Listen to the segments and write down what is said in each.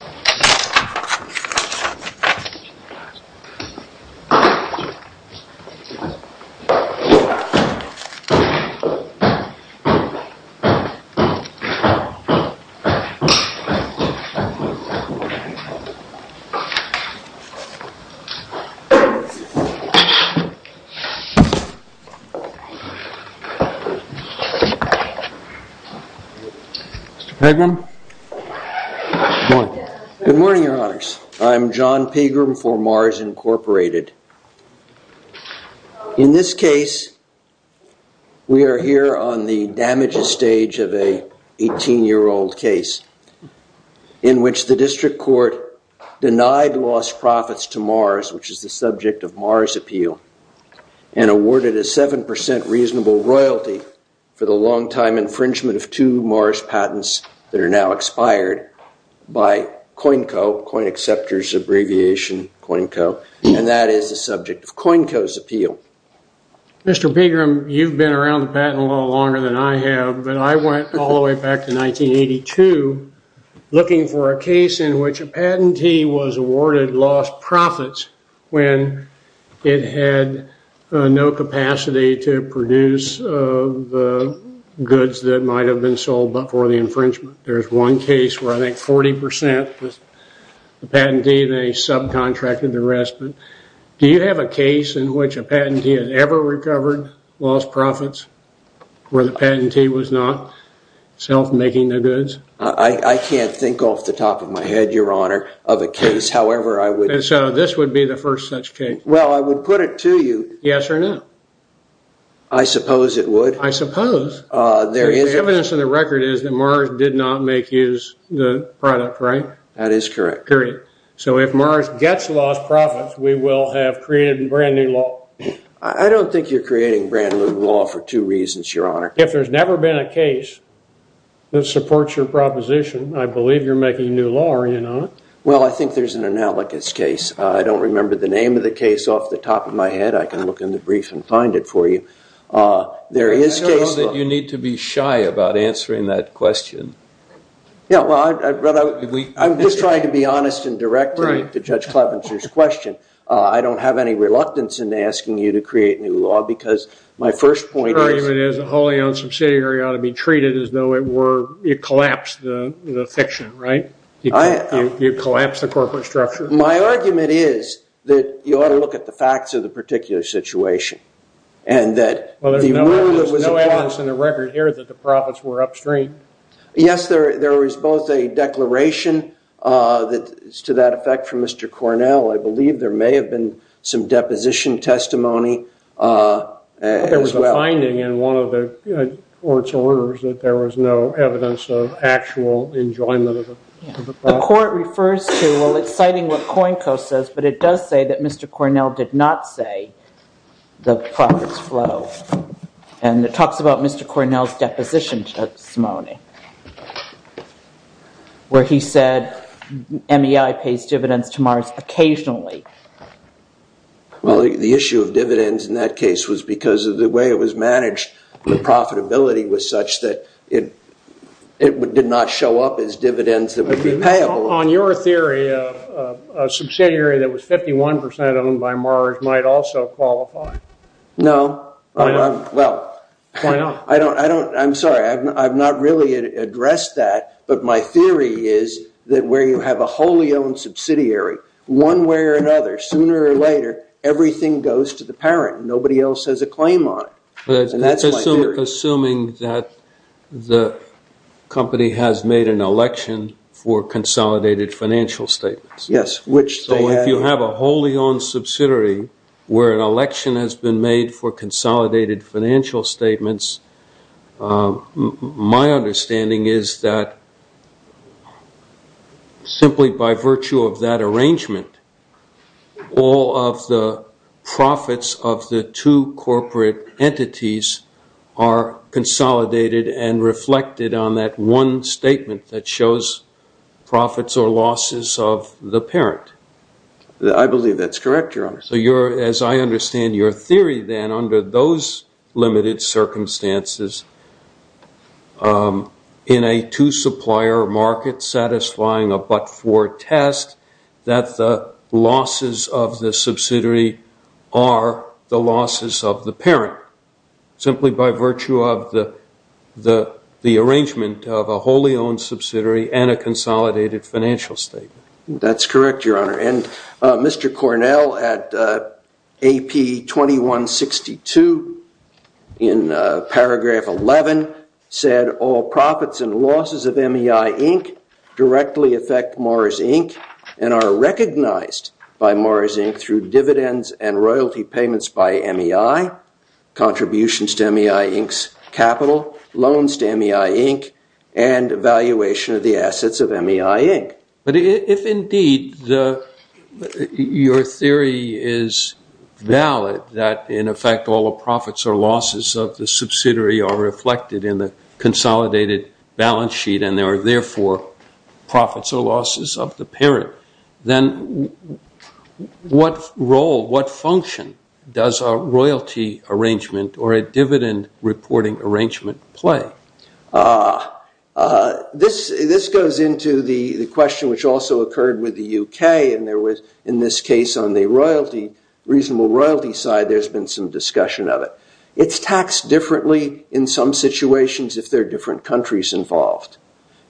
Receipt of Payment Mr. Pagrum, good morning Good morning your honors, I'm John Pagrum for Mars Incorporated. In this case we are here on the damages stage of a 18 year old case in which the district court denied lost profits to Mars which is the subject of Mars appeal and awarded a 7% reasonable royalty for the longtime infringement of two Mars patents that are now expired by COINCO coin acceptors abbreviation COINCO and that is the subject of COINCO's appeal. Mr. Pagrum you've been around the patent a little longer than I have but I went all the way back to 1982 looking for a case in which a patentee was awarded lost profits when it had no capacity to produce goods that might have been sold but for the infringement. There's one case where I think 40% was the patentee they subcontracted the rest but do you have a case in which a patentee has ever recovered lost profits where the patentee was not self making the goods? I can't think off the top of my head your honor of a case however I would and so this would be the first such case. Well I would put it to you yes or no I suppose it would. I suppose there is evidence in the record is that Mars did not make use the product right? That is correct. So if Mars gets lost profits we will have created brand new law. I don't think you're creating brand new law for two reasons your honor. If there's never been a case that supports your proposition I believe you're making new law are you not? Well I think there's an analogous case I don't remember the name of the case off the top of my head I can look in the brief and find it for you. There is case that you need to be shy about answering that question. Yeah well I'm just trying to be honest and direct to Judge Clevenger's question. I don't have any reluctance in asking you to create new law because my first point is a wholly owned subsidiary ought to be treated as though it were it collapsed the fiction right? You collapse the corporate structure? My argument is that you ought to look at the facts of the particular situation and that well there's no evidence in the record here that the profits were upstream. Yes there there was both a declaration that is to that effect from Mr. Cornell I believe there may have been some deposition testimony. There was a finding in one of the court's orders that there was no evidence of actual enjoyment of it. The court refers to well it's citing what COINCO says but it does say that Mr. Cornell did not say the profits flow and it talks about Mr. Cornell's deposition testimony where he said MEI pays dividends to Mars occasionally. Well the issue of dividends in that case was because of the way it was managed the profitability was such that it did not show up as dividends that would be payable. On your theory a subsidiary that was 51% owned by Mars might also qualify. No well I don't I don't I'm sorry I've not really addressed that but my theory is that where you have a wholly owned subsidiary one way or another sooner or later everything goes to the parent nobody else has a claim on it. Assuming that the company has made an election for consolidated financial statements. Yes. Which so if you have a wholly owned subsidiary where an election has been made for consolidated financial statements my understanding is that simply by virtue of that arrangement all of the profits of the two corporate entities are consolidated and reflected on that one statement that shows profits or losses of the parent. I believe that's correct your honor. So you're as I understand your theory then under those limited circumstances in a two supplier market satisfying a but-for test that the losses of the subsidiary are the losses of the parent simply by virtue of the the the arrangement of a wholly owned subsidiary and a consolidated financial statement. That's correct your honor and Mr. Cornell at AP 2162 in paragraph 11 said all profits and losses of MEI Inc. directly affect Mars Inc. and are recognized by Mars Inc. through dividends and royalty payments by MEI contributions to MEI Inc.'s capital loans to MEI Inc. and valuation of the assets of MEI Inc. But if indeed your theory is valid that in effect all the profits or losses of the subsidiary are reflected in the consolidated balance sheet and there are therefore profits or What role, what function does a royalty arrangement or a dividend reporting arrangement play? This goes into the the question which also occurred with the UK and there was in this case on the royalty reasonable royalty side there's been some discussion of it. It's taxed differently in some situations if there are different countries involved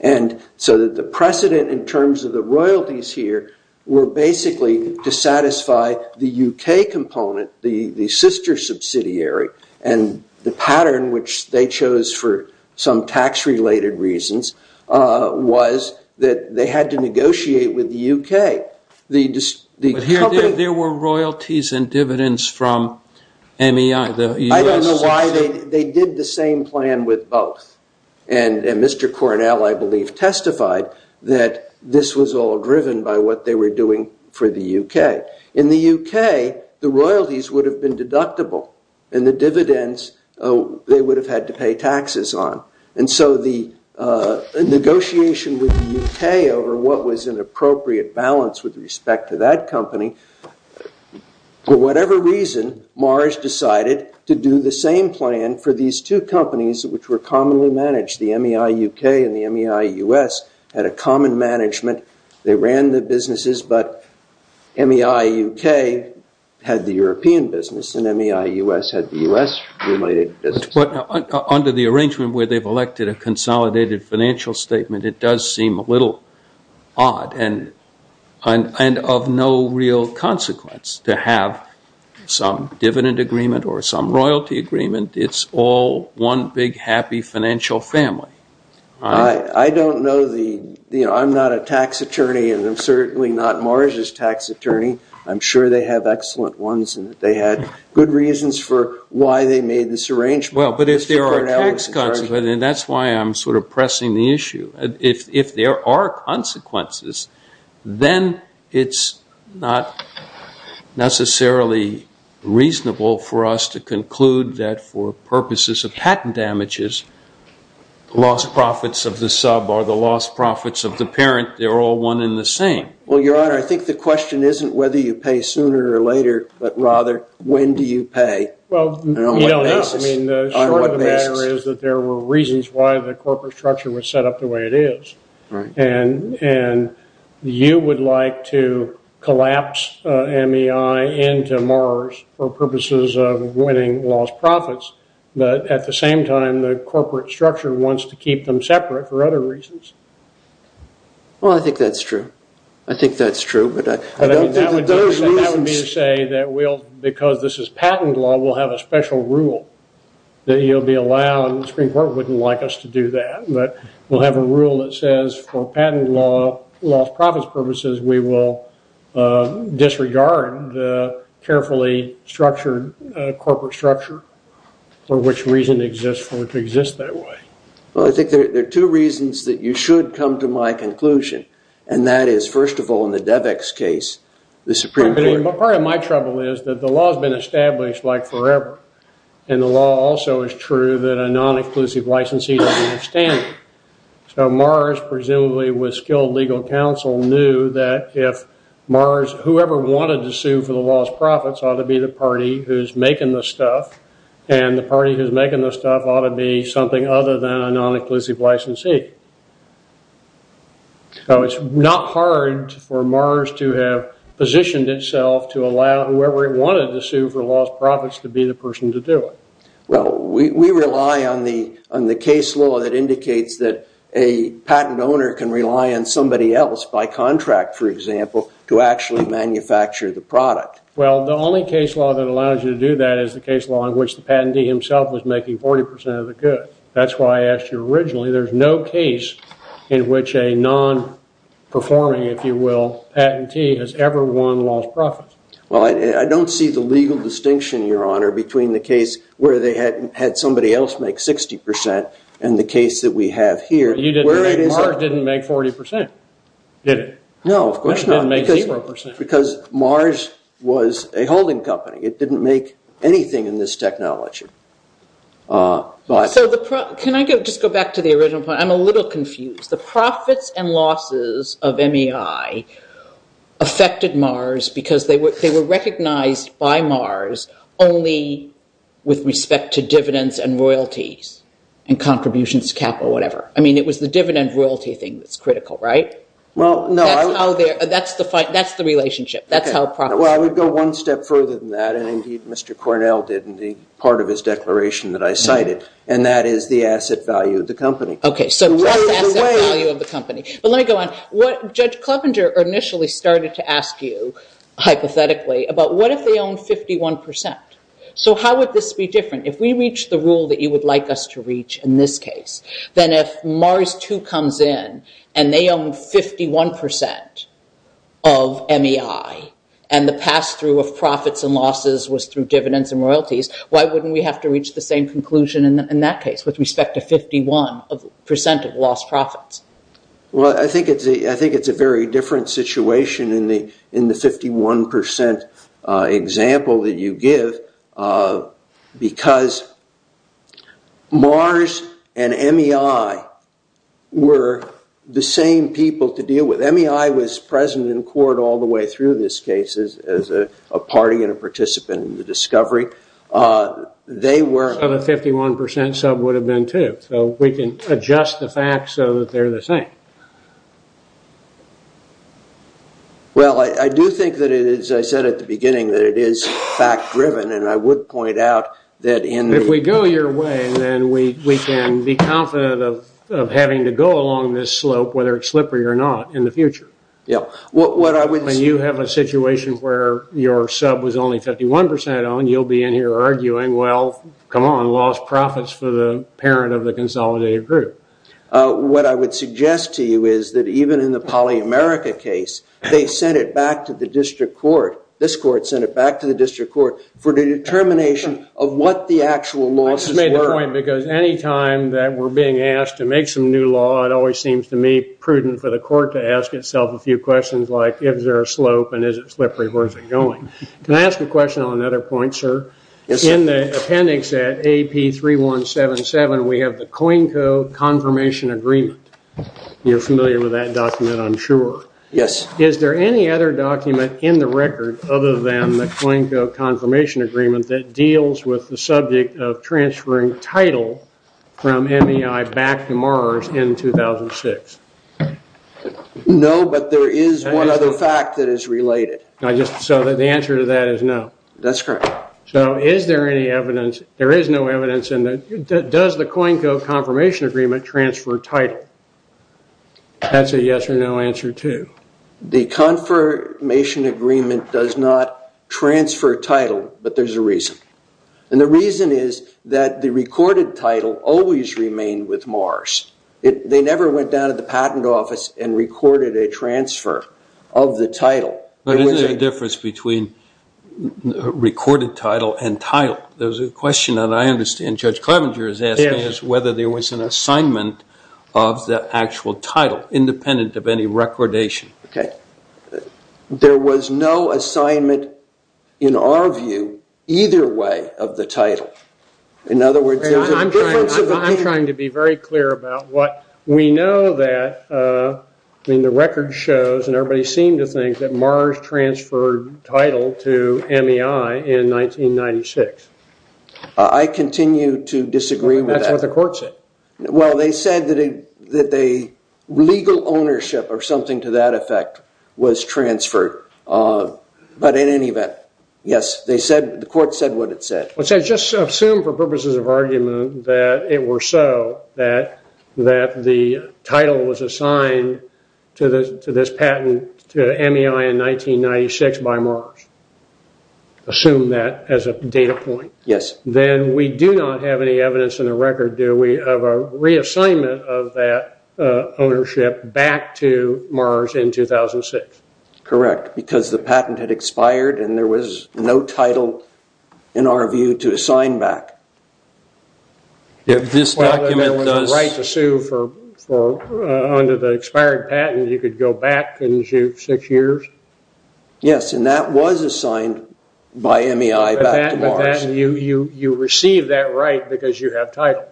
and so that the precedent in terms of the the UK component the the sister subsidiary and the pattern which they chose for some tax related reasons was that they had to negotiate with the UK There were royalties and dividends from MEI. I don't know why they they did the same plan with both and Mr. Cornell I believe testified that this was all In the UK the royalties would have been deductible and the dividends they would have had to pay taxes on and so the negotiation with the UK over what was an appropriate balance with respect to that company for whatever reason Mars decided to do the same plan for these two companies which were commonly managed the MEI UK and the MEI US had a common management they ran the businesses but MEI UK had the European business and MEI US had the US related business. But under the arrangement where they've elected a consolidated financial statement it does seem a little odd and and of no real consequence to have some dividend agreement or some royalty agreement it's all one big happy financial family. I I don't know the you know I'm not a tax attorney and I'm certainly not Mars's tax attorney I'm sure they have excellent ones and that they had good reasons for why they made this arrangement. Well but if there are tax consequences and that's why I'm sort of pressing the issue if if there are consequences then it's not necessarily reasonable for us to conclude that for purposes of patent damages lost profits of the sub or the lost profits of the question isn't whether you pay sooner or later but rather when do you pay? Well you know the short of the matter is that there were reasons why the corporate structure was set up the way it is and and you would like to collapse MEI into Mars for purposes of winning lost profits but at the same time the corporate structure wants to keep them separate for other reasons. Well I think that's true. I think that's true but I don't think that those reasons. That would be to say that we'll because this is patent law we'll have a special rule that you'll be allowed and the Supreme Court wouldn't like us to do that but we'll have a rule that says for patent law lost profits purposes we will disregard the carefully structured corporate structure for which reason exists for it to exist that way. Well I think there are two reasons that you should come to my conclusion and that is first of all in the DEVEX case the Supreme Court. Part of my trouble is that the law has been established like forever and the law also is true that a non-exclusive licensee doesn't have standing. So Mars presumably with skilled legal counsel knew that if Mars whoever wanted to sue for the lost profits ought to be the party who's making the stuff and the party who's making the stuff ought to be something other than a non-exclusive licensee. So it's not hard for Mars to have positioned itself to allow whoever wanted to sue for lost profits to be the person to do it. Well we rely on the on the case law that indicates that a patent owner can rely on somebody else by contract for example to actually manufacture the product. Well the only case law that allows you to do that is the case law in which the patentee himself was making 40% of the good. That's why I asked you originally there's no case in which a non-performing if you will patentee has ever won lost profits. Well I don't see the legal distinction your honor between the case where they had had somebody else make 60% and the case that we have here. You didn't Mars didn't make 40% did it? No of course not because Mars was a holding company it didn't make anything in this technology. So the can I go just go back to the original point I'm a little confused the profits and losses of MEI affected Mars because they were they were recognized by Mars only with respect to dividends and royalties and contributions capital whatever. I mean it was the dividend royalty thing that's critical right? Well no that's the fight that's the relationship that's how well I would go one step further than that and indeed Mr. Cornell did in the part of his declaration that I cited and that is the asset value of the company. Okay so let me go on what Judge Clevenger initially started to ask you hypothetically about what if they own 51% so how would this be different if we reach the rule that you would like us to reach in this case then if Mars 2 comes in and they own 51% of MEI and the pass-through of profits and losses was through dividends and royalties why wouldn't we have to reach the same conclusion in that case with respect to 51% of lost profits? Well I think it's a I think it's a very different situation in the in the 51% example that you give because Mars and MEI was present in court all the way through this case as a party and a participant in the discovery they were. So the 51% sub would have been too so we can adjust the facts so that they're the same. Well I do think that it is I said at the beginning that it is fact-driven and I would point out that in. If we go your way and then we we can be confident of having to go along this slope whether it's slippery or not in the future. Yeah what I would say you have a situation where your sub was only 51% on you'll be in here arguing well come on lost profits for the parent of the consolidated group. What I would suggest to you is that even in the polyamerica case they sent it back to the district court this court sent it back to the district court for the determination of what the actual losses were. I just made the point because anytime that we're being asked to new law it always seems to me prudent for the court to ask itself a few questions like is there a slope and is it slippery where is it going. Can I ask a question on another point sir? Yes sir. In the appendix at AP 3177 we have the COINCO confirmation agreement. You're familiar with that document I'm sure. Yes. Is there any other document in the record other than the COINCO confirmation agreement that deals with the subject of transferring title from Mars in 2006? No but there is one other fact that is related. I just saw that the answer to that is no. That's correct. So is there any evidence there is no evidence in that does the COINCO confirmation agreement transfer title? That's a yes or no answer to. The confirmation agreement does not transfer title but there's a reason and the reason is that the recorded title always remained with Mars. They never went down to the patent office and recorded a transfer of the title. But is there a difference between recorded title and title? There's a question that I understand Judge Clevenger is asking is whether there was an assignment of the actual title independent of any recordation. Okay there was no assignment in our view either way of the I'm trying to be very clear about what we know that I mean the record shows and everybody seemed to think that Mars transferred title to MEI in 1996. I continue to disagree with that. That's what the court said. Well they said that a legal ownership or something to that effect was transferred but in any event yes they said the court said what it said. Let's just assume for purposes of it were so that the title was assigned to this patent to MEI in 1996 by Mars. Assume that as a data point. Yes. Then we do not have any evidence in the record do we of a reassignment of that ownership back to Mars in 2006. Correct because the patent had expired and there was no title in our view to assign back. If this document was a right to sue for under the expired patent you could go back and sue six years? Yes and that was assigned by MEI back to Mars. You receive that right because you have title.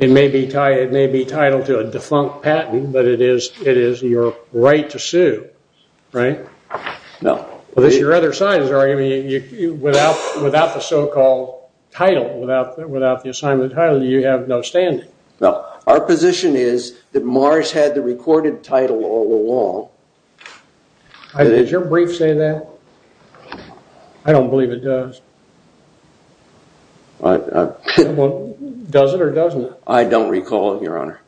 It may be title to a defunct patent but it is your right to sue right? No. Well this is your other side without the so-called title without the assignment title you have no standing. Well our position is that Mars had the recorded title all along. Did your brief say that? I don't believe it does. Does it or doesn't it? I don't recall it your honor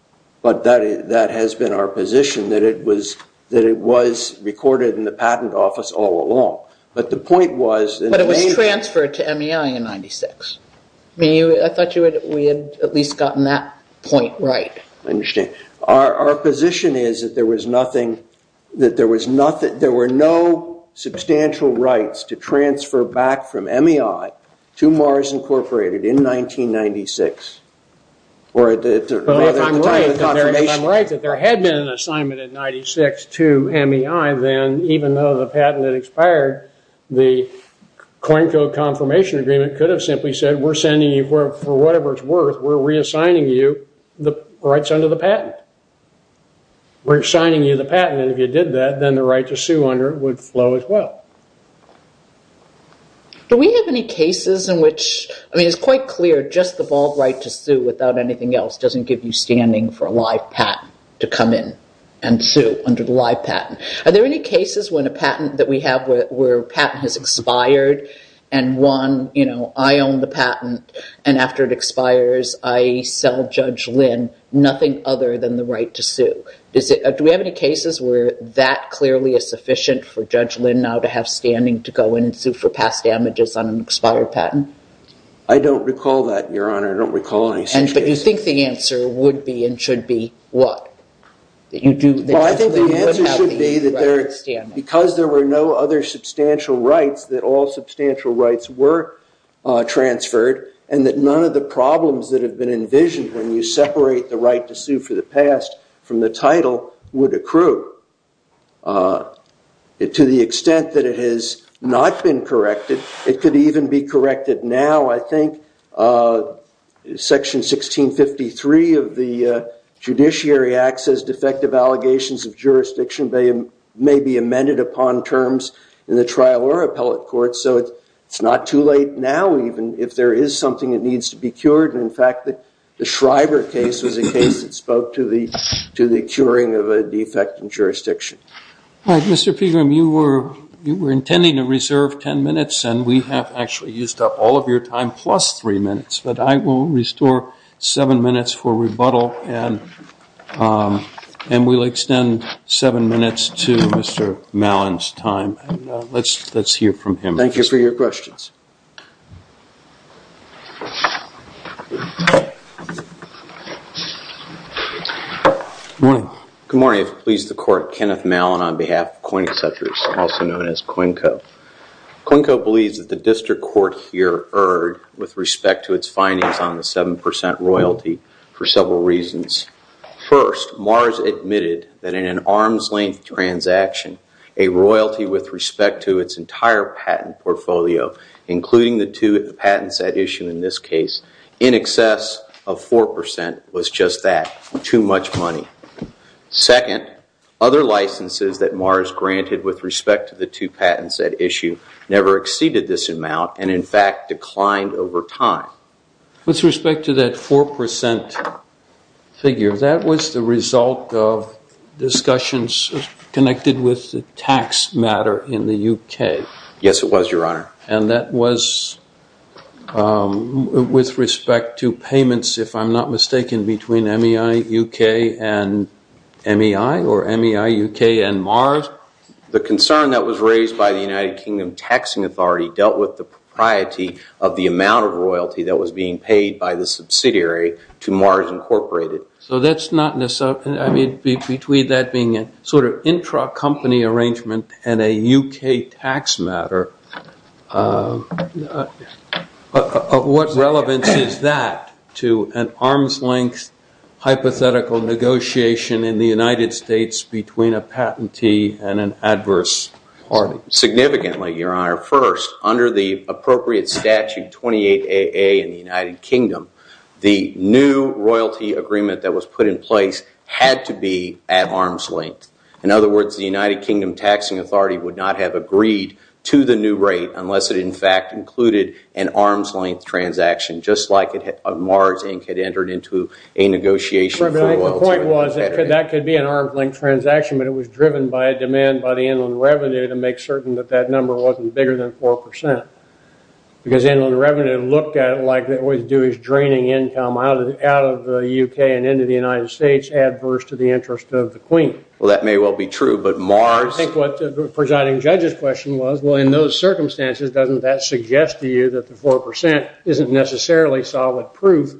but that has been our position that it was that it was recorded in the patent office all along but the point was... But it was transferred to MEI in 96. I thought we had at least gotten that point right. I understand. Our position is that there was nothing that there was nothing there were no substantial rights to transfer back from MEI to Mars Incorporated in even though the patent had expired the coin code confirmation agreement could have simply said we're sending you for whatever it's worth we're reassigning you the rights under the patent. We're assigning you the patent and if you did that then the right to sue under it would flow as well. Do we have any cases in which I mean it's quite clear just the bald right to sue without anything else doesn't give you standing for a live patent to come in and sue under the live patent. Do we have any cases when a patent that we have where patent has expired and one you know I own the patent and after it expires I sell Judge Lynn nothing other than the right to sue. Do we have any cases where that clearly is sufficient for Judge Lynn now to have standing to go in and sue for past damages on an expired patent? I don't recall that your honor. I don't recall any such case. But you think the answer would be and should be what? Well I think the answer should be that because there were no other substantial rights that all substantial rights were transferred and that none of the problems that have been envisioned when you separate the right to sue for the past from the title would accrue. To the extent that it has not been corrected it could even be corrected now I think section 1653 of the Judiciary Act says defective allegations of jurisdiction may be amended upon terms in the trial or appellate court so it's not too late now even if there is something that needs to be cured and in fact that the Shriver case was a case that spoke to the to the curing of a defect in jurisdiction. Mr. Pegram you were you were intending to reserve ten minutes and we have actually used up all of your time plus three minutes but I will restore seven minutes for rebuttal and we'll extend seven minutes to Mr. Mallon's time. Let's hear from him. Thank you for your questions. Good morning. Good morning. If it pleases the court, Kenneth Mallon on behalf of Coining Sutures also known as Coinko. Coinko believes that the district court here erred with respect to its findings on the 7% royalty for several reasons. First, Mars admitted that in an arm's-length transaction a royalty with respect to its entire patent portfolio including the two patents at issue in this case in excess of 4% was just that too much money. Second, other licenses that Mars granted with respect to the two patents at issue never exceeded this amount and in fact declined over time. With respect to that 4% figure, that was the result of discussions connected with the tax matter in the UK. Yes it was, your honor. And that was with respect to payments if I'm not mistaken between MEI UK and MEI or MEI UK and Mars? The concern that was raised by the United States with the propriety of the amount of royalty that was being paid by the subsidiary to Mars Incorporated. So that's not necessarily, I mean between that being a sort of intra-company arrangement and a UK tax matter, what relevance is that to an arm's-length hypothetical negotiation in the United States between a patentee and an adverse party? Significantly, your honor. First, under the appropriate statute 28AA in the United Kingdom, the new royalty agreement that was put in place had to be at arm's-length. In other words, the United Kingdom Taxing Authority would not have agreed to the new rate unless it in fact included an arm's-length transaction just like Mars Inc. had entered into a negotiation. The point was that could be an arm's-length transaction but it was driven by a demand by the Inland Revenue to make certain that that number wasn't bigger than 4%. Because Inland Revenue looked at it like what it would do is draining income out of the UK and into the United States adverse to the interest of the Queen. Well that may well be true but Mars... I think what the presiding judge's question was, well in those circumstances doesn't that suggest to you that the 4% isn't necessarily solid proof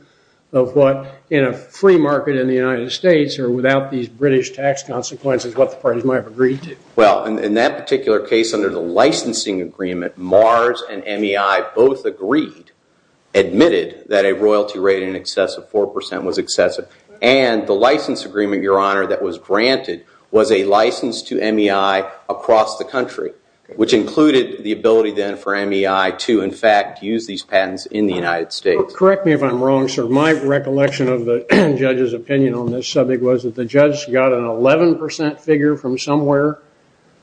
of what in a free market in the United States or without these British tax consequences what the parties might have agreed to? Well in that particular case under the licensing agreement, Mars and MEI both agreed, admitted that a royalty rate in excess of 4% was excessive. And the license agreement, your honor, that was granted was a license to MEI across the country which included the ability then for MEI to in fact use these patents in the United States. Correct me if I'm wrong, sir. My recollection of the judge's opinion on this subject was that the 11% figure from somewhere,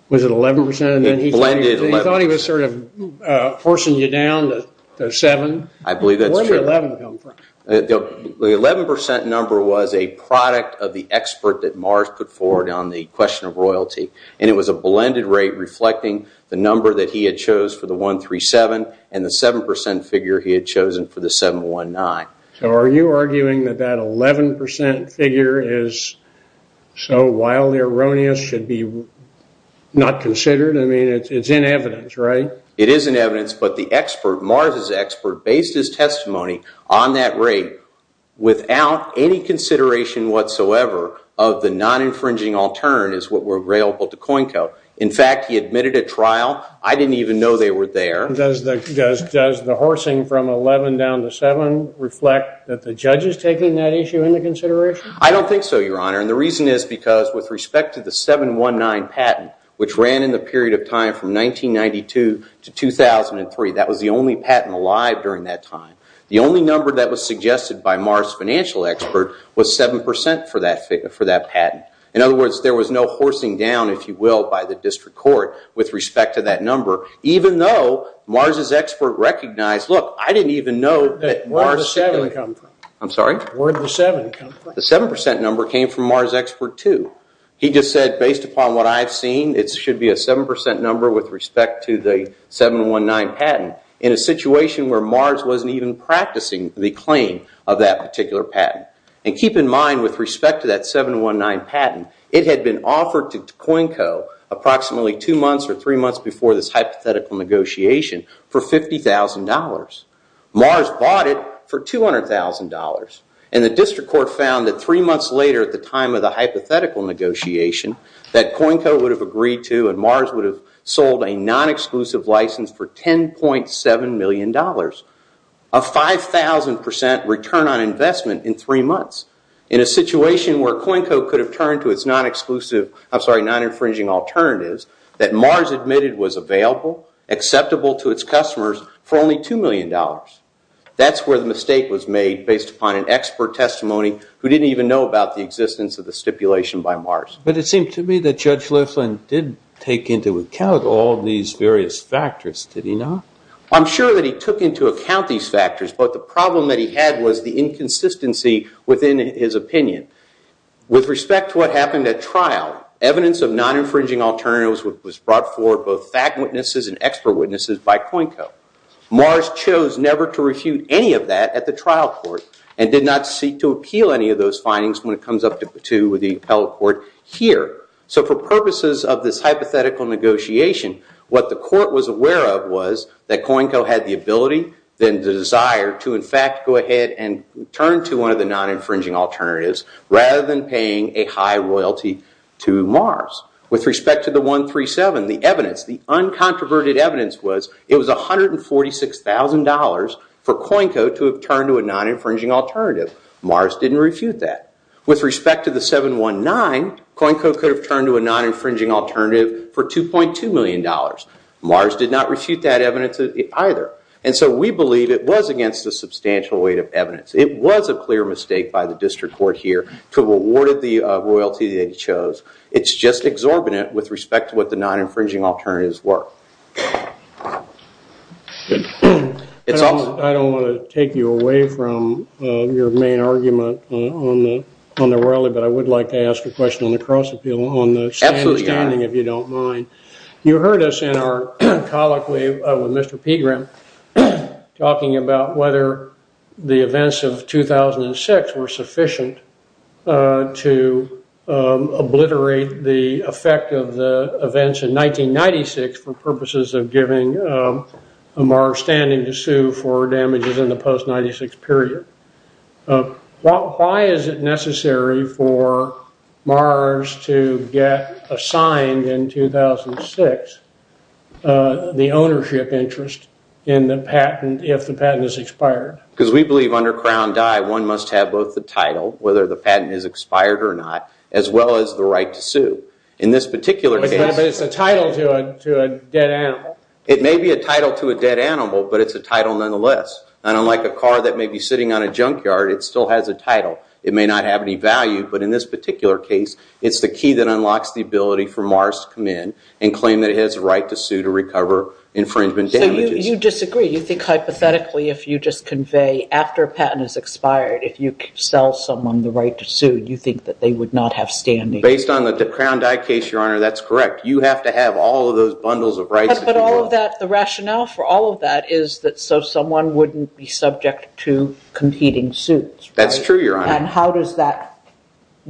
was it 11%? He thought he was sort of forcing you down to 7. I believe that's true. Where did the 11% come from? The 11% number was a product of the expert that Mars put forward on the question of royalty. And it was a blended rate reflecting the number that he had chose for the 137 and the 7% figure he had chosen for the 719. So are you arguing that that 11% figure is so wildly erroneous, should be not considered? I mean it's in evidence, right? It is in evidence but the expert, Mars' expert, based his testimony on that rate without any consideration whatsoever of the non-infringing alternate is what were available to Coincode. In fact he admitted at trial, I didn't even know they were there. Does the horsing from 11 down to 7 reflect that the judge is taking that issue into consideration? I don't think so, your honor. And the reason is because with respect to the 719 patent, which ran in the period of time from 1992 to 2003, that was the only patent alive during that time. The only number that was suggested by Mars' financial expert was 7% for that patent. In other words, there was no horsing down, if you will, by the district court with respect to that number, even though Mars' expert recognized, look, I didn't even know... Where did the 7 come from? I'm sorry? Where did the 7 come from? The 7% number came from Mars' expert too. He just said, based upon what I've seen, it should be a 7% number with respect to the 719 patent in a situation where Mars wasn't even practicing the claim of that particular patent. And keep in mind with respect to that 719 patent, it had been offered to COINCO approximately two months or three months before this hypothetical negotiation for $50,000. Mars bought it for $200,000 and the district court found that three months later at the time of the hypothetical negotiation that COINCO would have agreed to and Mars would have sold a non-exclusive license for $10.7 million, a 5,000% return on investment in three months. In a situation where COINCO could have returned to its non-exclusive, I'm sorry, non-infringing alternatives that Mars admitted was available, acceptable to its customers for only $2 million. That's where the mistake was made based upon an expert testimony who didn't even know about the existence of the stipulation by Mars. But it seemed to me that Judge Liflin didn't take into account all these various factors, did he not? I'm sure that he took into account these factors, but the problem that he had was the inconsistency within his opinion. With respect to what happened at trial, evidence of non-infringing alternatives was brought forward both fact witnesses and expert witnesses by COINCO. Mars chose never to refute any of that at the trial court and did not seek to appeal any of those findings when it comes up to the appellate court here. So for purposes of this hypothetical negotiation, what the court was aware of was that COINCO had the desire to in fact go ahead and turn to one of the non-infringing alternatives rather than paying a high royalty to Mars. With respect to the 137, the evidence, the uncontroverted evidence was it was $146,000 for COINCO to have turned to a non-infringing alternative. Mars didn't refute that. With respect to the 719, COINCO could have turned to a non-infringing alternative for $2.2 either. And so we believe it was against a substantial weight of evidence. It was a clear mistake by the district court here to have awarded the royalty that he chose. It's just exorbitant with respect to what the non-infringing alternatives were. I don't want to take you away from your main argument on the rally, but I would like to ask a question on the cross-appeal on the standing, if you don't mind. You heard us in our colloquy with Mr. Pegram talking about whether the events of 2006 were sufficient to obliterate the effect of the events in 1996 for purposes of giving Mars standing to sue for damages in the post-96 period. Why is it necessary for Mars to get assigned in 2006 the ownership interest in the patent if the patent is expired? Because we believe under Crown Die one must have both the title, whether the patent is expired or not, as well as the right to sue. In this particular case... But it's a title to a dead animal, but it's a title nonetheless. And unlike a car that may be sitting on a junkyard, it still has a title. It may not have any value, but in this particular case it's the key that unlocks the ability for Mars to come in and claim that it has a right to sue to recover infringement damages. So you disagree. You think hypothetically if you just convey after a patent is expired, if you sell someone the right to sue, you think that they would not have standing? Based on the Crown Die case, Your Honor, that's correct. You have to have all of those things in order for someone to be subject to competing suits. That's true, Your Honor. And how does that...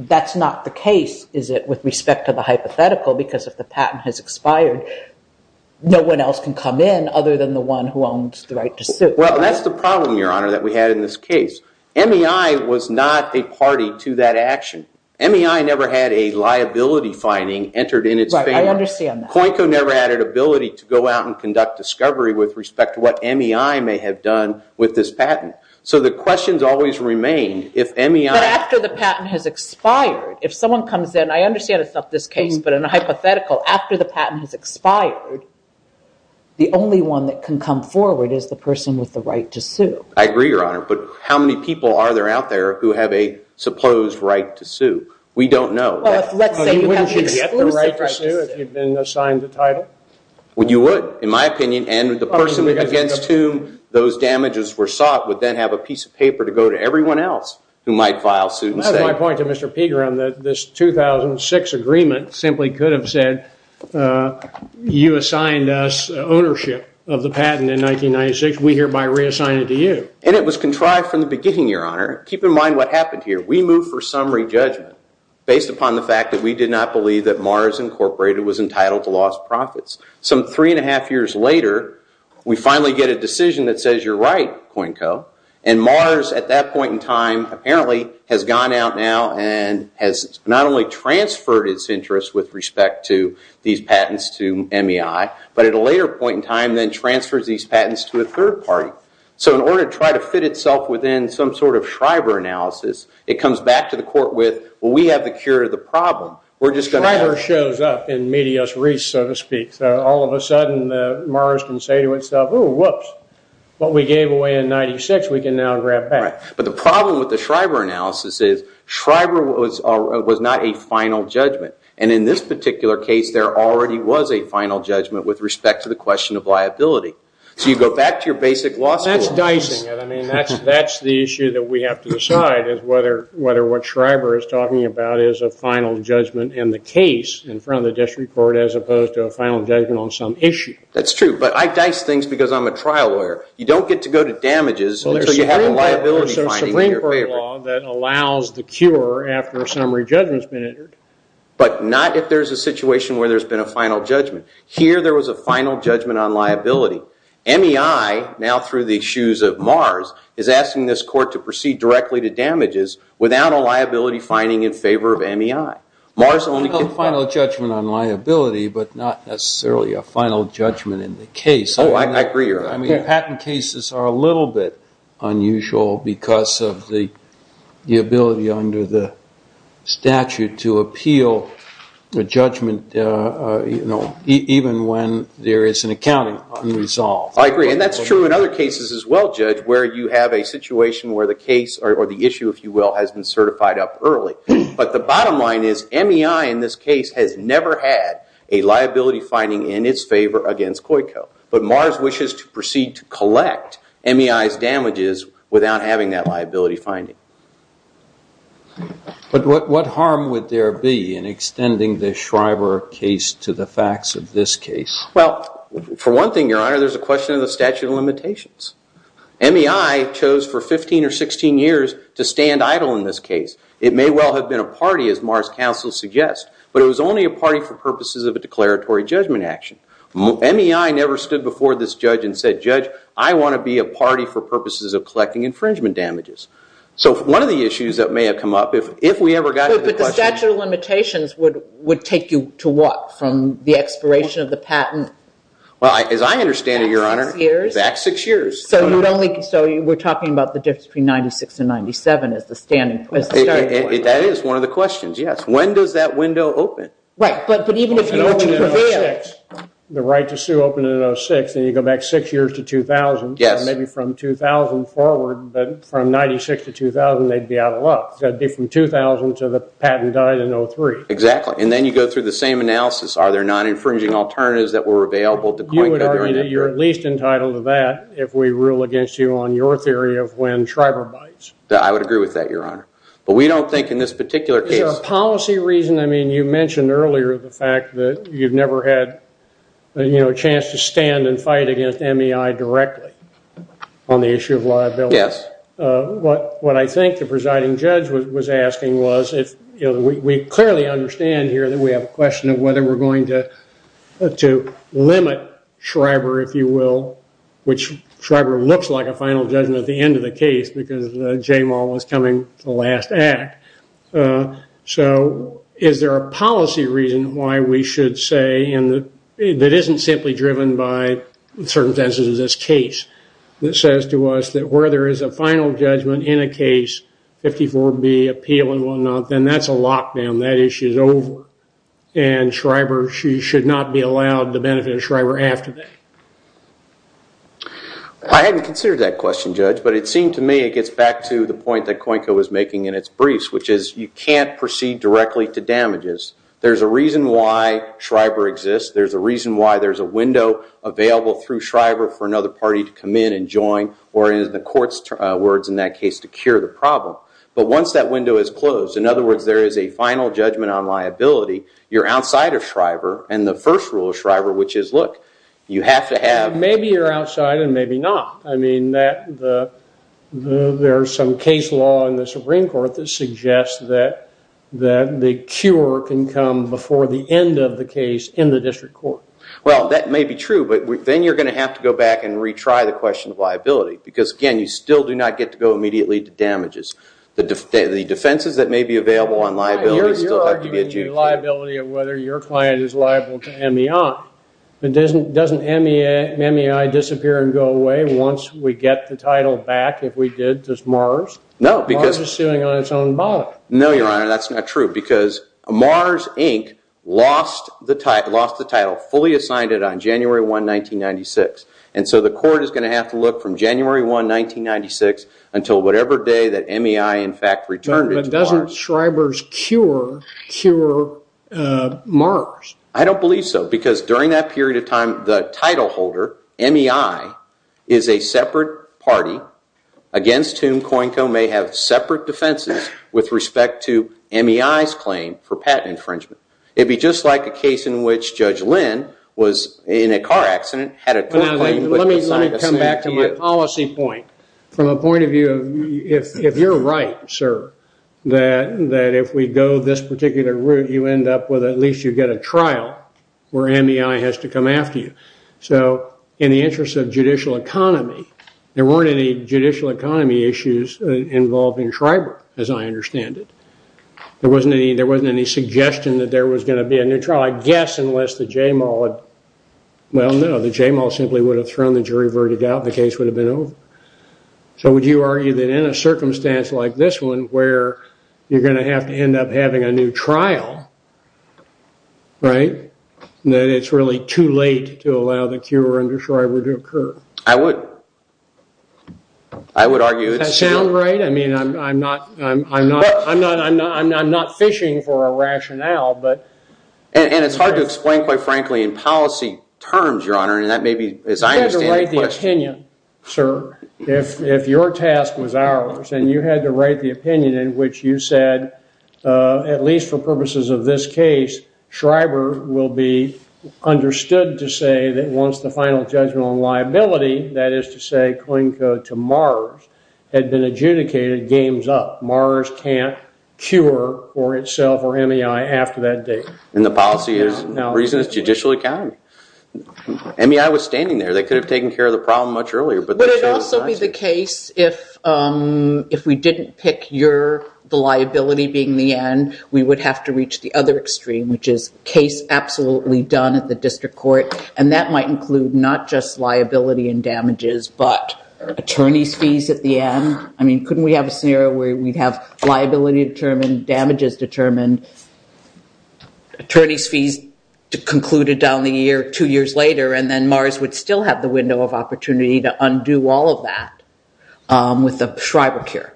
That's not the case, is it, with respect to the hypothetical? Because if the patent has expired, no one else can come in other than the one who owns the right to sue. Well, that's the problem, Your Honor, that we had in this case. MEI was not a party to that action. MEI never had a liability finding entered in its favor. Right, I understand that. COINCO never had an ability to go out and correct what MEI may have done with this patent. So the questions always remain if MEI... But after the patent has expired, if someone comes in, I understand it's not this case, but in a hypothetical, after the patent has expired, the only one that can come forward is the person with the right to sue. I agree, Your Honor, but how many people are there out there who have a supposed right to sue? We don't know. Well, let's say you have an exclusive right to sue. You wouldn't get the right to sue if you'd been assigned the title? Well, you would, in my opinion, and the person against whom those damages were sought would then have a piece of paper to go to everyone else who might file suit instead. That's my point to Mr. Pegram, that this 2006 agreement simply could have said, you assigned us ownership of the patent in 1996, we hereby reassign it to you. And it was contrived from the beginning, Your Honor. Keep in mind what happened here. We moved for summary judgment based upon the fact that we did not believe that Mars Incorporated was entitled to lost profits. Some three and a half years later, we finally get a decision that says you're right, Coinco, and Mars, at that point in time, apparently has gone out now and has not only transferred its interest with respect to these patents to MEI, but at a later point in time then transfers these patents to a third party. So in order to try to fit itself within some sort of Shriver analysis, it comes back to the problem. Shriver shows up in medias res, so to speak. So all of a sudden Mars can say to itself, whoops, what we gave away in 96, we can now grab back. But the problem with the Shriver analysis is Shriver was not a final judgment. And in this particular case, there already was a final judgment with respect to the question of liability. So you go back to your basic law school. That's dicing it. I mean, that's the issue that we have to decide is whether what Shriver is a final judgment in the case in front of the district court as opposed to a final judgment on some issue. That's true, but I dice things because I'm a trial lawyer. You don't get to go to damages until you have a liability finding in your favor. There's a Supreme Court law that allows the cure after a summary judgment has been entered. But not if there's a situation where there's been a final judgment. Here there was a final judgment on liability. MEI, now through the shoes of Mars, is asking this court to proceed directly to damages without a liability finding in favor of MEI. Mars only can file a judgment on liability, but not necessarily a final judgment in the case. Oh, I agree. I mean, patent cases are a little bit unusual because of the ability under the statute to appeal the judgment, you know, even when there is an accounting unresolved. I agree. And that's true in other cases as well, Judge, where you have a situation where the case or the issue, if you will, has been certified up early. But the bottom line is MEI in this case has never had a liability finding in its favor against COICO. But Mars wishes to proceed to collect MEI's damages without having that liability finding. But what harm would there be in extending the Shriver case to the facts of this case? Well, for one thing, Your Honor, the statute of limitations. MEI chose for 15 or 16 years to stand idle in this case. It may well have been a party, as Mars counsel suggests, but it was only a party for purposes of a declaratory judgment action. MEI never stood before this judge and said, Judge, I want to be a party for purposes of collecting infringement damages. So one of the issues that may have come up, if we ever got to the question of... But the statute of limitations would take you to what? From the expiration of the patent? Well, as I understand it, Your Honor, back six years. So we're talking about the difference between 96 and 97 as the starting point. That is one of the questions, yes. When does that window open? Right, but even if you open it in 06, the right to sue opened in 06, then you go back six years to 2000. Yes. Maybe from 2000 forward, but from 96 to 2000, they'd be out of luck. They'd be from 2000 to the patent died in 03. Exactly. And then you go through the same analysis. Are there non-infringing alternatives that were available to COINCO during that period? You're at least entitled to that if we rule against you on your theory of when Shriver bites. I would agree with that, Your Honor. But we don't think in this particular case... Is there a policy reason? I mean, you mentioned earlier the fact that you've never had a chance to stand and fight against MEI directly on the issue of liability. Yes. What I think the presiding judge was asking was if... We clearly understand here that we have a question of whether we're going to limit Shriver, if you will, which Shriver looks like a final judgment at the end of the case because J-Mal was coming to the last act. So is there a policy reason why we should say that isn't simply driven by the circumstances of this case that says to us that where there is a final judgment in a case, 54B, appeal and whatnot, then that's a lockdown. That issue's over. And Shriver, she should not be allowed the benefit of Shriver after that. I hadn't considered that question, Judge, but it seemed to me it gets back to the point that COINCO was making in its briefs, which is you can't proceed directly to damages. There's a reason why Shriver exists. There's a reason why there's a window available through Shriver for another party to come in and join, or in the court's words in that case, to cure the problem. But once that window is closed, in other words, there is a final judgment on liability, you're outside of Shriver. And the first rule of Shriver, which is, look, you have to have... Maybe you're outside and maybe not. I mean, there's some case law in the Supreme Court that suggests that the cure can come before the end of the case in the district court. Well, that may be true, but then you're going to have to go back and retry the question of liability because, again, you still do not get to go immediately to damages. The defenses that may be available on liability still have to be adjudicated. You're arguing the liability of whether your client is liable to MEI, but doesn't MEI disappear and go away once we get the title back? If we did, does Mars? No, because... Mars is suing on its own bond. No, Your Honor, that's not true because Mars, Inc. lost the title, fully assigned it on January 1, 1996. And so the court is going to have to look from January 1, 1996 until whatever day that MEI, in fact, returned. But doesn't Shriver's cure cure Mars? I don't believe so because during that period of time, the title holder, MEI, is a separate party against whom COINCO may have separate defenses with respect to MEI's claim for patent infringement. It'd be just like a case in which Judge Lynn was in a car accident, had a... Let me come back to my policy point. From a point of view of, if you're right, sir, that if we go this particular route, you end up with at least you get a trial where MEI has to come after you. So, in the interest of judicial economy, there weren't any judicial economy issues involving Shriver, as I understand it. There wasn't any suggestion that there was going to be a new trial. Well, I guess, unless the J-Mall had... Well, no, the J-Mall simply would have thrown the jury verdict out, the case would have been over. So, would you argue that in a circumstance like this one, where you're going to have to end up having a new trial, right, that it's really too late to allow the cure under Shriver to occur? I would. I would argue it's... Does that sound right? I mean, I'm not fishing for a rationale, but... And it's hard to explain, quite frankly, in policy terms, Your Honor, and that may be, as I understand it... You had to write the opinion, sir, if your task was ours. And you had to write the opinion in which you said, at least for purposes of this case, Shriver will be understood to say that once the final judgment on liability, that is to say, coin code to Mars, had been adjudicated, game's up. Mars can't cure for itself or MEI after that date. And the policy is, the reason is judicial accounting. MEI was standing there. They could have taken care of the problem much earlier, but... Would it also be the case if we didn't pick the liability being the end, we would have to reach the other extreme, which is case absolutely done at the district court. And that might include not just liability and damages, but attorney's fees at the end. I mean, couldn't we have a scenario where we'd have liability determined, damages determined, attorney's fees concluded down the year, two years later, and then Mars would still have the window of opportunity to undo all of that with the Shriver cure?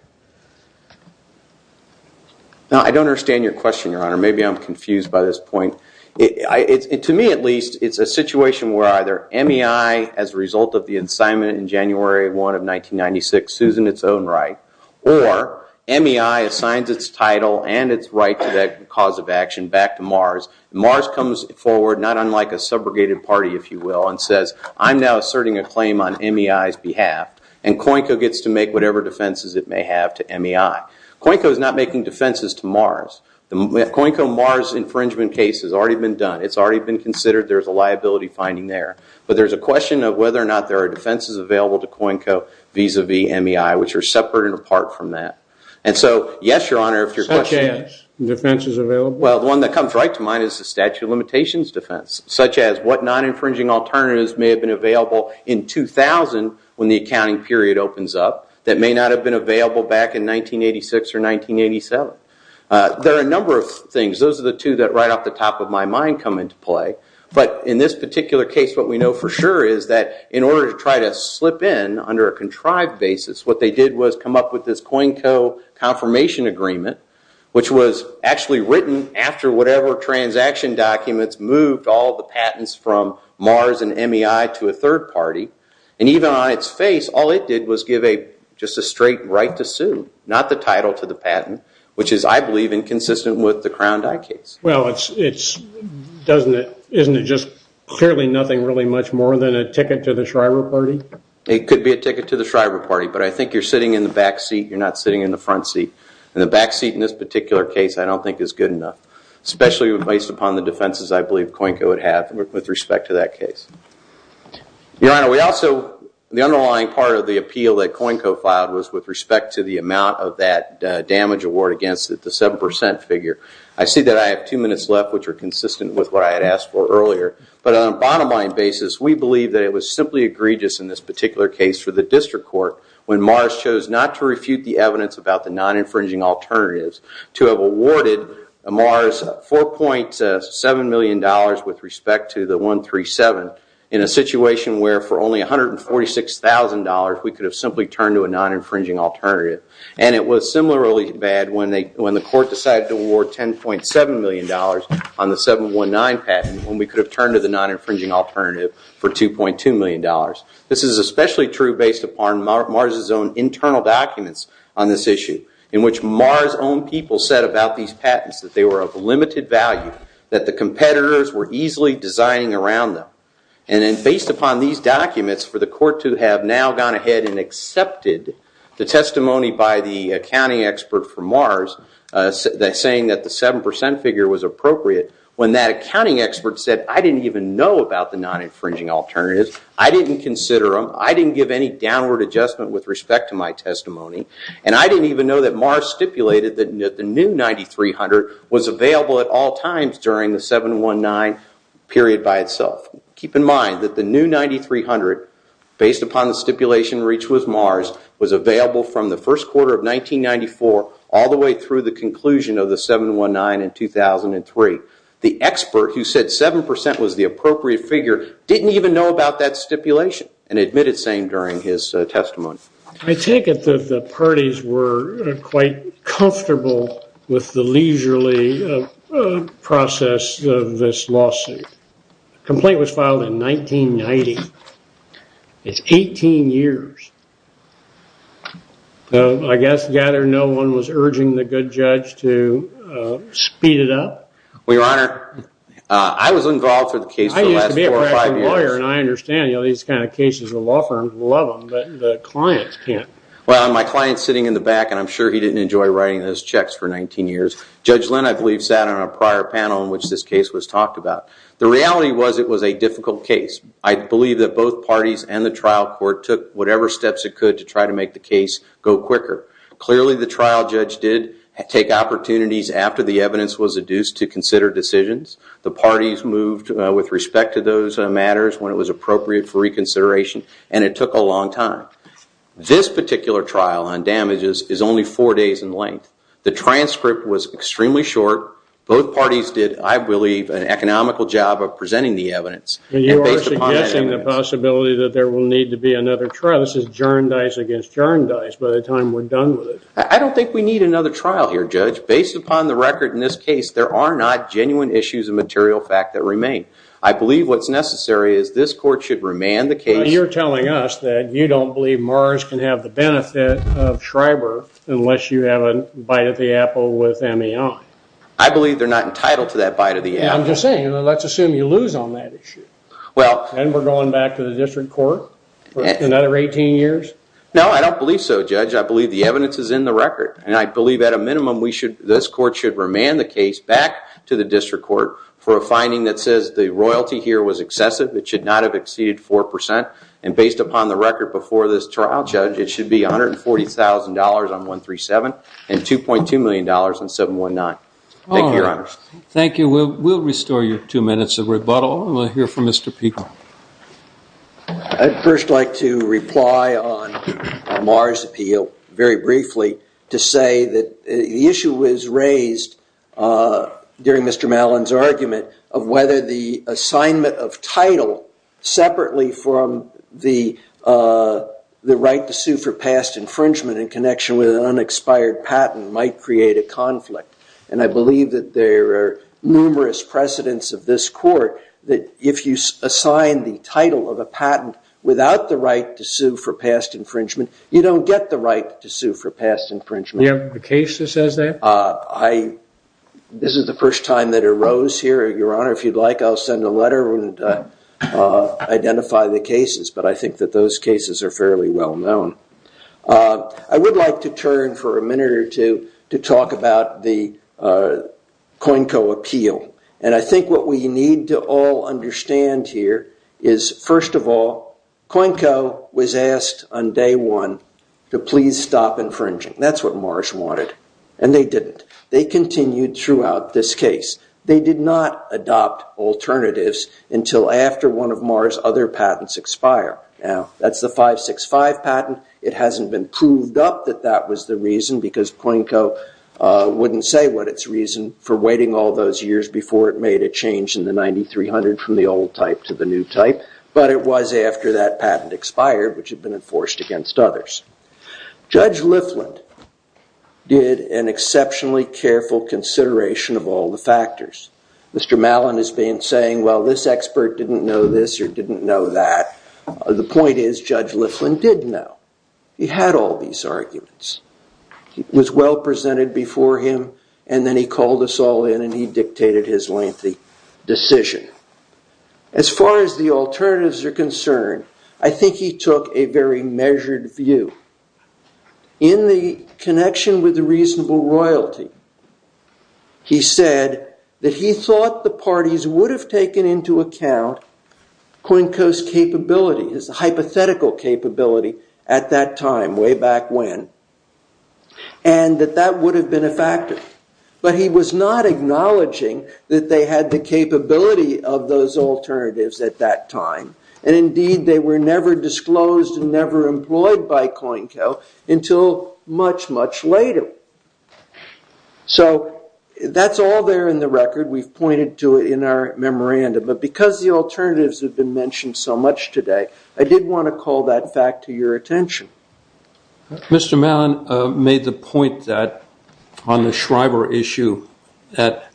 Now, I don't understand your question, Your Honor. Maybe I'm confused by this point. To me, at least, it's a situation where either MEI, as a result of the incitement in January 1 of 1996, sues in its own right, or MEI assigns its title and its right to that cause of action back to Mars. Mars comes forward, not unlike a subrogated party, if you will, and says, I'm now asserting a claim on MEI's behalf. And COINCO gets to make whatever defenses it may have to MEI. COINCO is not making defenses to Mars. The COINCO Mars infringement case has already been done. It's already been considered. There's a liability finding there. But there's a question of whether or not there are defenses available to COINCO vis-a-vis MEI, which are separate and apart from that. And so, yes, Your Honor, if your question is- Such as defenses available? Well, the one that comes right to mind is the statute of limitations defense, such as what non-infringing alternatives may have been available in 2000 when the accounting period opens up that may not have been available back in 1986 or 1987. There are a number of things. Those are the two that, right off the top of my mind, come into play. But in this particular case, what we know for sure is that, in order to try to slip in under a contrived basis, what they did was come up with this COINCO confirmation agreement, which was actually written after whatever transaction documents moved all the patents from Mars and MEI to a third party. And even on its face, all it did was give just a straight right to sue, not the title to the patent, which is, I believe, inconsistent with the Crown Dye case. Well, isn't it just clearly nothing really much more than a ticket to the Shriver Party? It could be a ticket to the Shriver Party. But I think you're sitting in the back seat. You're not sitting in the front seat. And the back seat in this particular case I don't think is good enough, especially based upon the defenses I believe COINCO would have with respect to that case. Your Honor, we also, the underlying part of the appeal that COINCO filed was with respect to the amount of that damage award against the 7% figure. I see that I have two minutes left, which are consistent with what I had asked for earlier. But on a bottom line basis, we believe that it was simply egregious in this particular case for the district court when Mars chose not to refute the evidence about the non-infringing alternatives to have awarded Mars $4.7 million with respect to the 137 in a situation where for only $146,000 we could have simply turned to a non-infringing alternative. And it was similarly bad when the court decided to award $10.7 million on the 719 patent when we could have turned to the non-infringing alternative for $2.2 million. This is especially true based upon Mars' own internal documents on this issue in which Mars' own people said about these patents that they were of limited value, that the competitors were easily designing around them. And then based upon these documents for the court to have now gone ahead and accepted the testimony by the accounting expert for Mars saying that the 7% figure was appropriate when that accounting expert said, I didn't even know about the non-infringing alternatives. I didn't consider them. I didn't give any downward adjustment with respect to my testimony. And I didn't even know that Mars stipulated that the new $9,300 was available at all times during the 719 period by itself. Keep in mind that the new $9,300 based upon the stipulation reached with Mars was available from the first quarter of 1994 all the way through the conclusion of the 719 in 2003. The expert who said 7% was the appropriate figure didn't even know about that stipulation and admitted the same during his testimony. I take it that the parties were quite comfortable with the leisurely process of this lawsuit. The complaint was filed in 1990. It's 18 years. I guess, gather, no one was urging the good judge to speed it up? Well, your honor, I was involved for the case for the last four or five years. And I understand these kind of cases, the law firms love them, but the clients can't. Well, my client's sitting in the back and I'm sure he didn't enjoy writing those checks for 19 years. Judge Lynn, I believe, sat on a prior panel in which this case was talked about. The reality was it was a difficult case. I believe that both parties and the trial court took whatever steps it could to try to make the case go quicker. Clearly, the trial judge did take opportunities after the evidence was adduced to consider decisions. The parties moved with respect to those matters when it was appropriate for reconsideration and it took a long time. This particular trial on damages is only four days in length. The transcript was extremely short. Both parties did, I believe, an economical job of presenting the evidence. You are suggesting the possibility that there will need to be another trial. This is jar and dice against jar and dice by the time we're done with it. I don't think we need another trial here, Judge. Based upon the record in this case, there are not genuine issues of material fact that remain. I believe what's necessary is this court should remand the case. You're telling us that you don't believe Mars can have the benefit of Schreiber unless you have a bite of the apple with MAI. I believe they're not entitled to that bite of the apple. I'm just saying, let's assume you lose on that issue. And we're going back to the district court for another 18 years? No, I don't believe so, Judge. I believe the evidence is in the record. And I believe at a minimum, this court should remand the case back to the district court for a finding that says the royalty here was excessive. It should not have exceeded 4%. And based upon the record before this trial, Judge, it should be $140,000 on 137 and $2.2 million on 719. Thank you, Your Honor. Thank you. We'll restore your two minutes of rebuttal. And we'll hear from Mr. Pico. I'd first like to reply on Mars' appeal very briefly to say that the issue was raised during Mr. Mallon's argument of whether the assignment of title separately from the right to sue for past infringement in connection with an unexpired patent might create a conflict. And I believe that there are numerous precedents of this court that if you assign the title of a patent without the right to sue for past infringement, you don't get the right to sue for past infringement. You have a case that says that? This is the first time that arose here, Your Honor. If you'd like, I'll send a letter and identify the cases. But I think that those cases are fairly well known. I would like to turn for a minute or two to talk about the COINCO appeal. And I think what we need to all understand here is, first of all, COINCO was asked on day one to please stop infringing. That's what Mars wanted. And they didn't. They continued throughout this case. They did not adopt alternatives until after one of Mars' other patents expire. Now, that's the 565 patent. It hasn't been proved up that that was the reason, because COINCO wouldn't say what its reason for waiting all those years before it made a change in the 9300 from the old type to the new type. But it was after that patent expired, which had been enforced against others. Judge Lifland did an exceptionally careful consideration of all the factors. Mr. Mallon has been saying, well, this expert didn't know this or didn't know that. The point is, Judge Lifland did know. He had all these arguments. It was well presented before him. And then he called us all in. And he dictated his lengthy decision. As far as the alternatives are concerned, I think he took a very measured view. In the connection with the reasonable royalty, he said that he thought the parties would have taken into account COINCO's capability, his hypothetical capability at that time, way back when, and that that would have been a factor. But he was not acknowledging that they had the capability of those alternatives at that time. And indeed, they were never disclosed and never employed by COINCO until much, much later. So that's all there in the record. We've pointed to it in our memorandum. But because the alternatives have been mentioned so much today, I did want to call that fact to your attention. Mr. Mallon made the point that on the Schreiber issue, that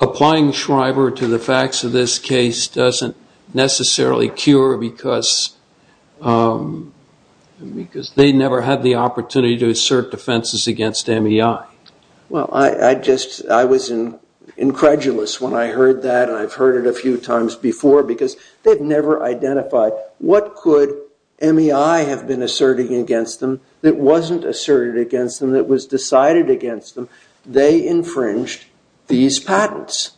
applying Schreiber to the facts of this case doesn't necessarily cure because they never had the opportunity to assert defenses against MEI. Well, I was incredulous when I heard that. And I've heard it a few times before because they've never identified what could MEI have been asserting against them that wasn't asserted against them, that was decided against them. They infringed these patents.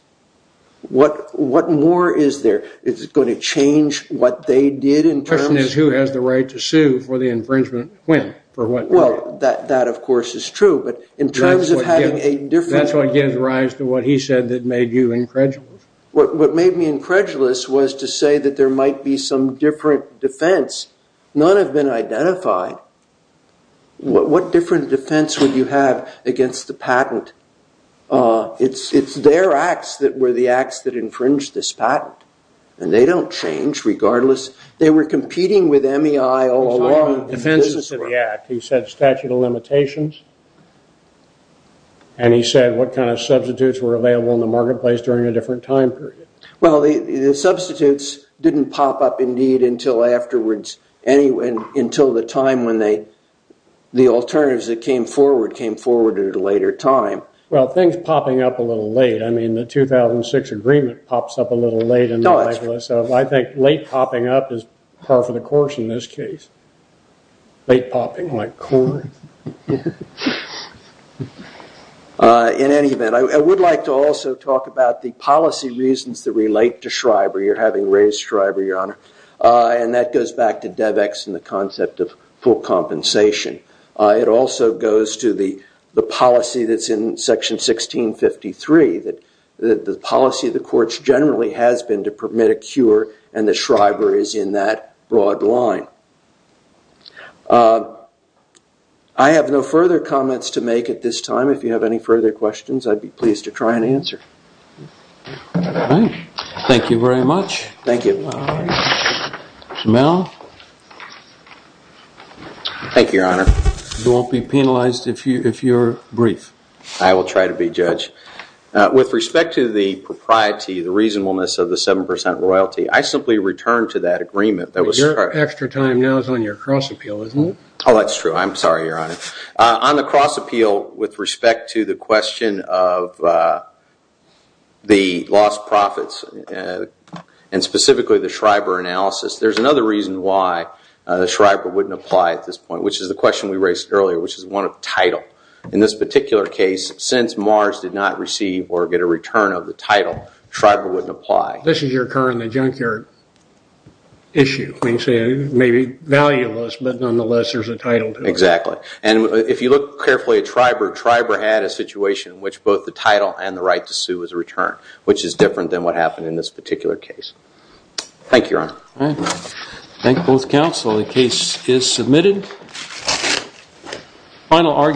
What more is there? Is it going to change what they did in terms? The question is who has the right to sue for the infringement when? For what? Well, that, of course, is true. But in terms of having a different- That's what gives rise to what he said that made you incredulous. What made me incredulous was to say that there might be some different defense. None have been identified. What different defense would you have against the patent? It's their acts that were the acts that infringed this patent. And they don't change regardless. They were competing with MEI all along. He said statute of limitations. And he said what kind of substitutes were available in the marketplace during a different time period. Well, the substitutes didn't pop up, indeed, until afterwards. Until the time when the alternatives that came forward came forward at a later time. Well, things popping up a little late. I mean, the 2006 agreement pops up a little late. I think late popping up is par for the course in this case. Late popping like corn. In any event, I would like to also talk about the policy reasons that relate to Shriver. You're having Ray Shriver, your honor. And that goes back to DEVX and the concept of full compensation. It also goes to the policy that's in section 1653. That the policy of the courts generally has been to permit a cure. And the Shriver is in that broad line. I have no further comments to make at this time. If you have any further questions, I'd be pleased to try and answer. All right. Thank you very much. Thank you. Mel. Thank you, your honor. You won't be penalized if you're brief. I will try to be, judge. With respect to the propriety, the reasonableness of the 7% royalty, I simply returned to that agreement that was. Extra time now is on your cross appeal, isn't it? Oh, that's true. I'm sorry, your honor. On the cross appeal with respect to the question of the lost profits. And specifically the Shriver analysis. There's another reason why the Shriver wouldn't apply at this point. Which is the question we raised earlier, which is one of title. In this particular case, since Mars did not receive or get a return of the title, Shriver wouldn't apply. This is your car in the junkyard issue. Maybe valueless, but nonetheless, there's a title to it. Exactly. And if you look carefully at Shriver, Shriver had a situation in which both the title and the right to sue was returned. Which is different than what happened in this particular case. Thank you, your honor. Thank both counsel. The case is submitted. Final argument.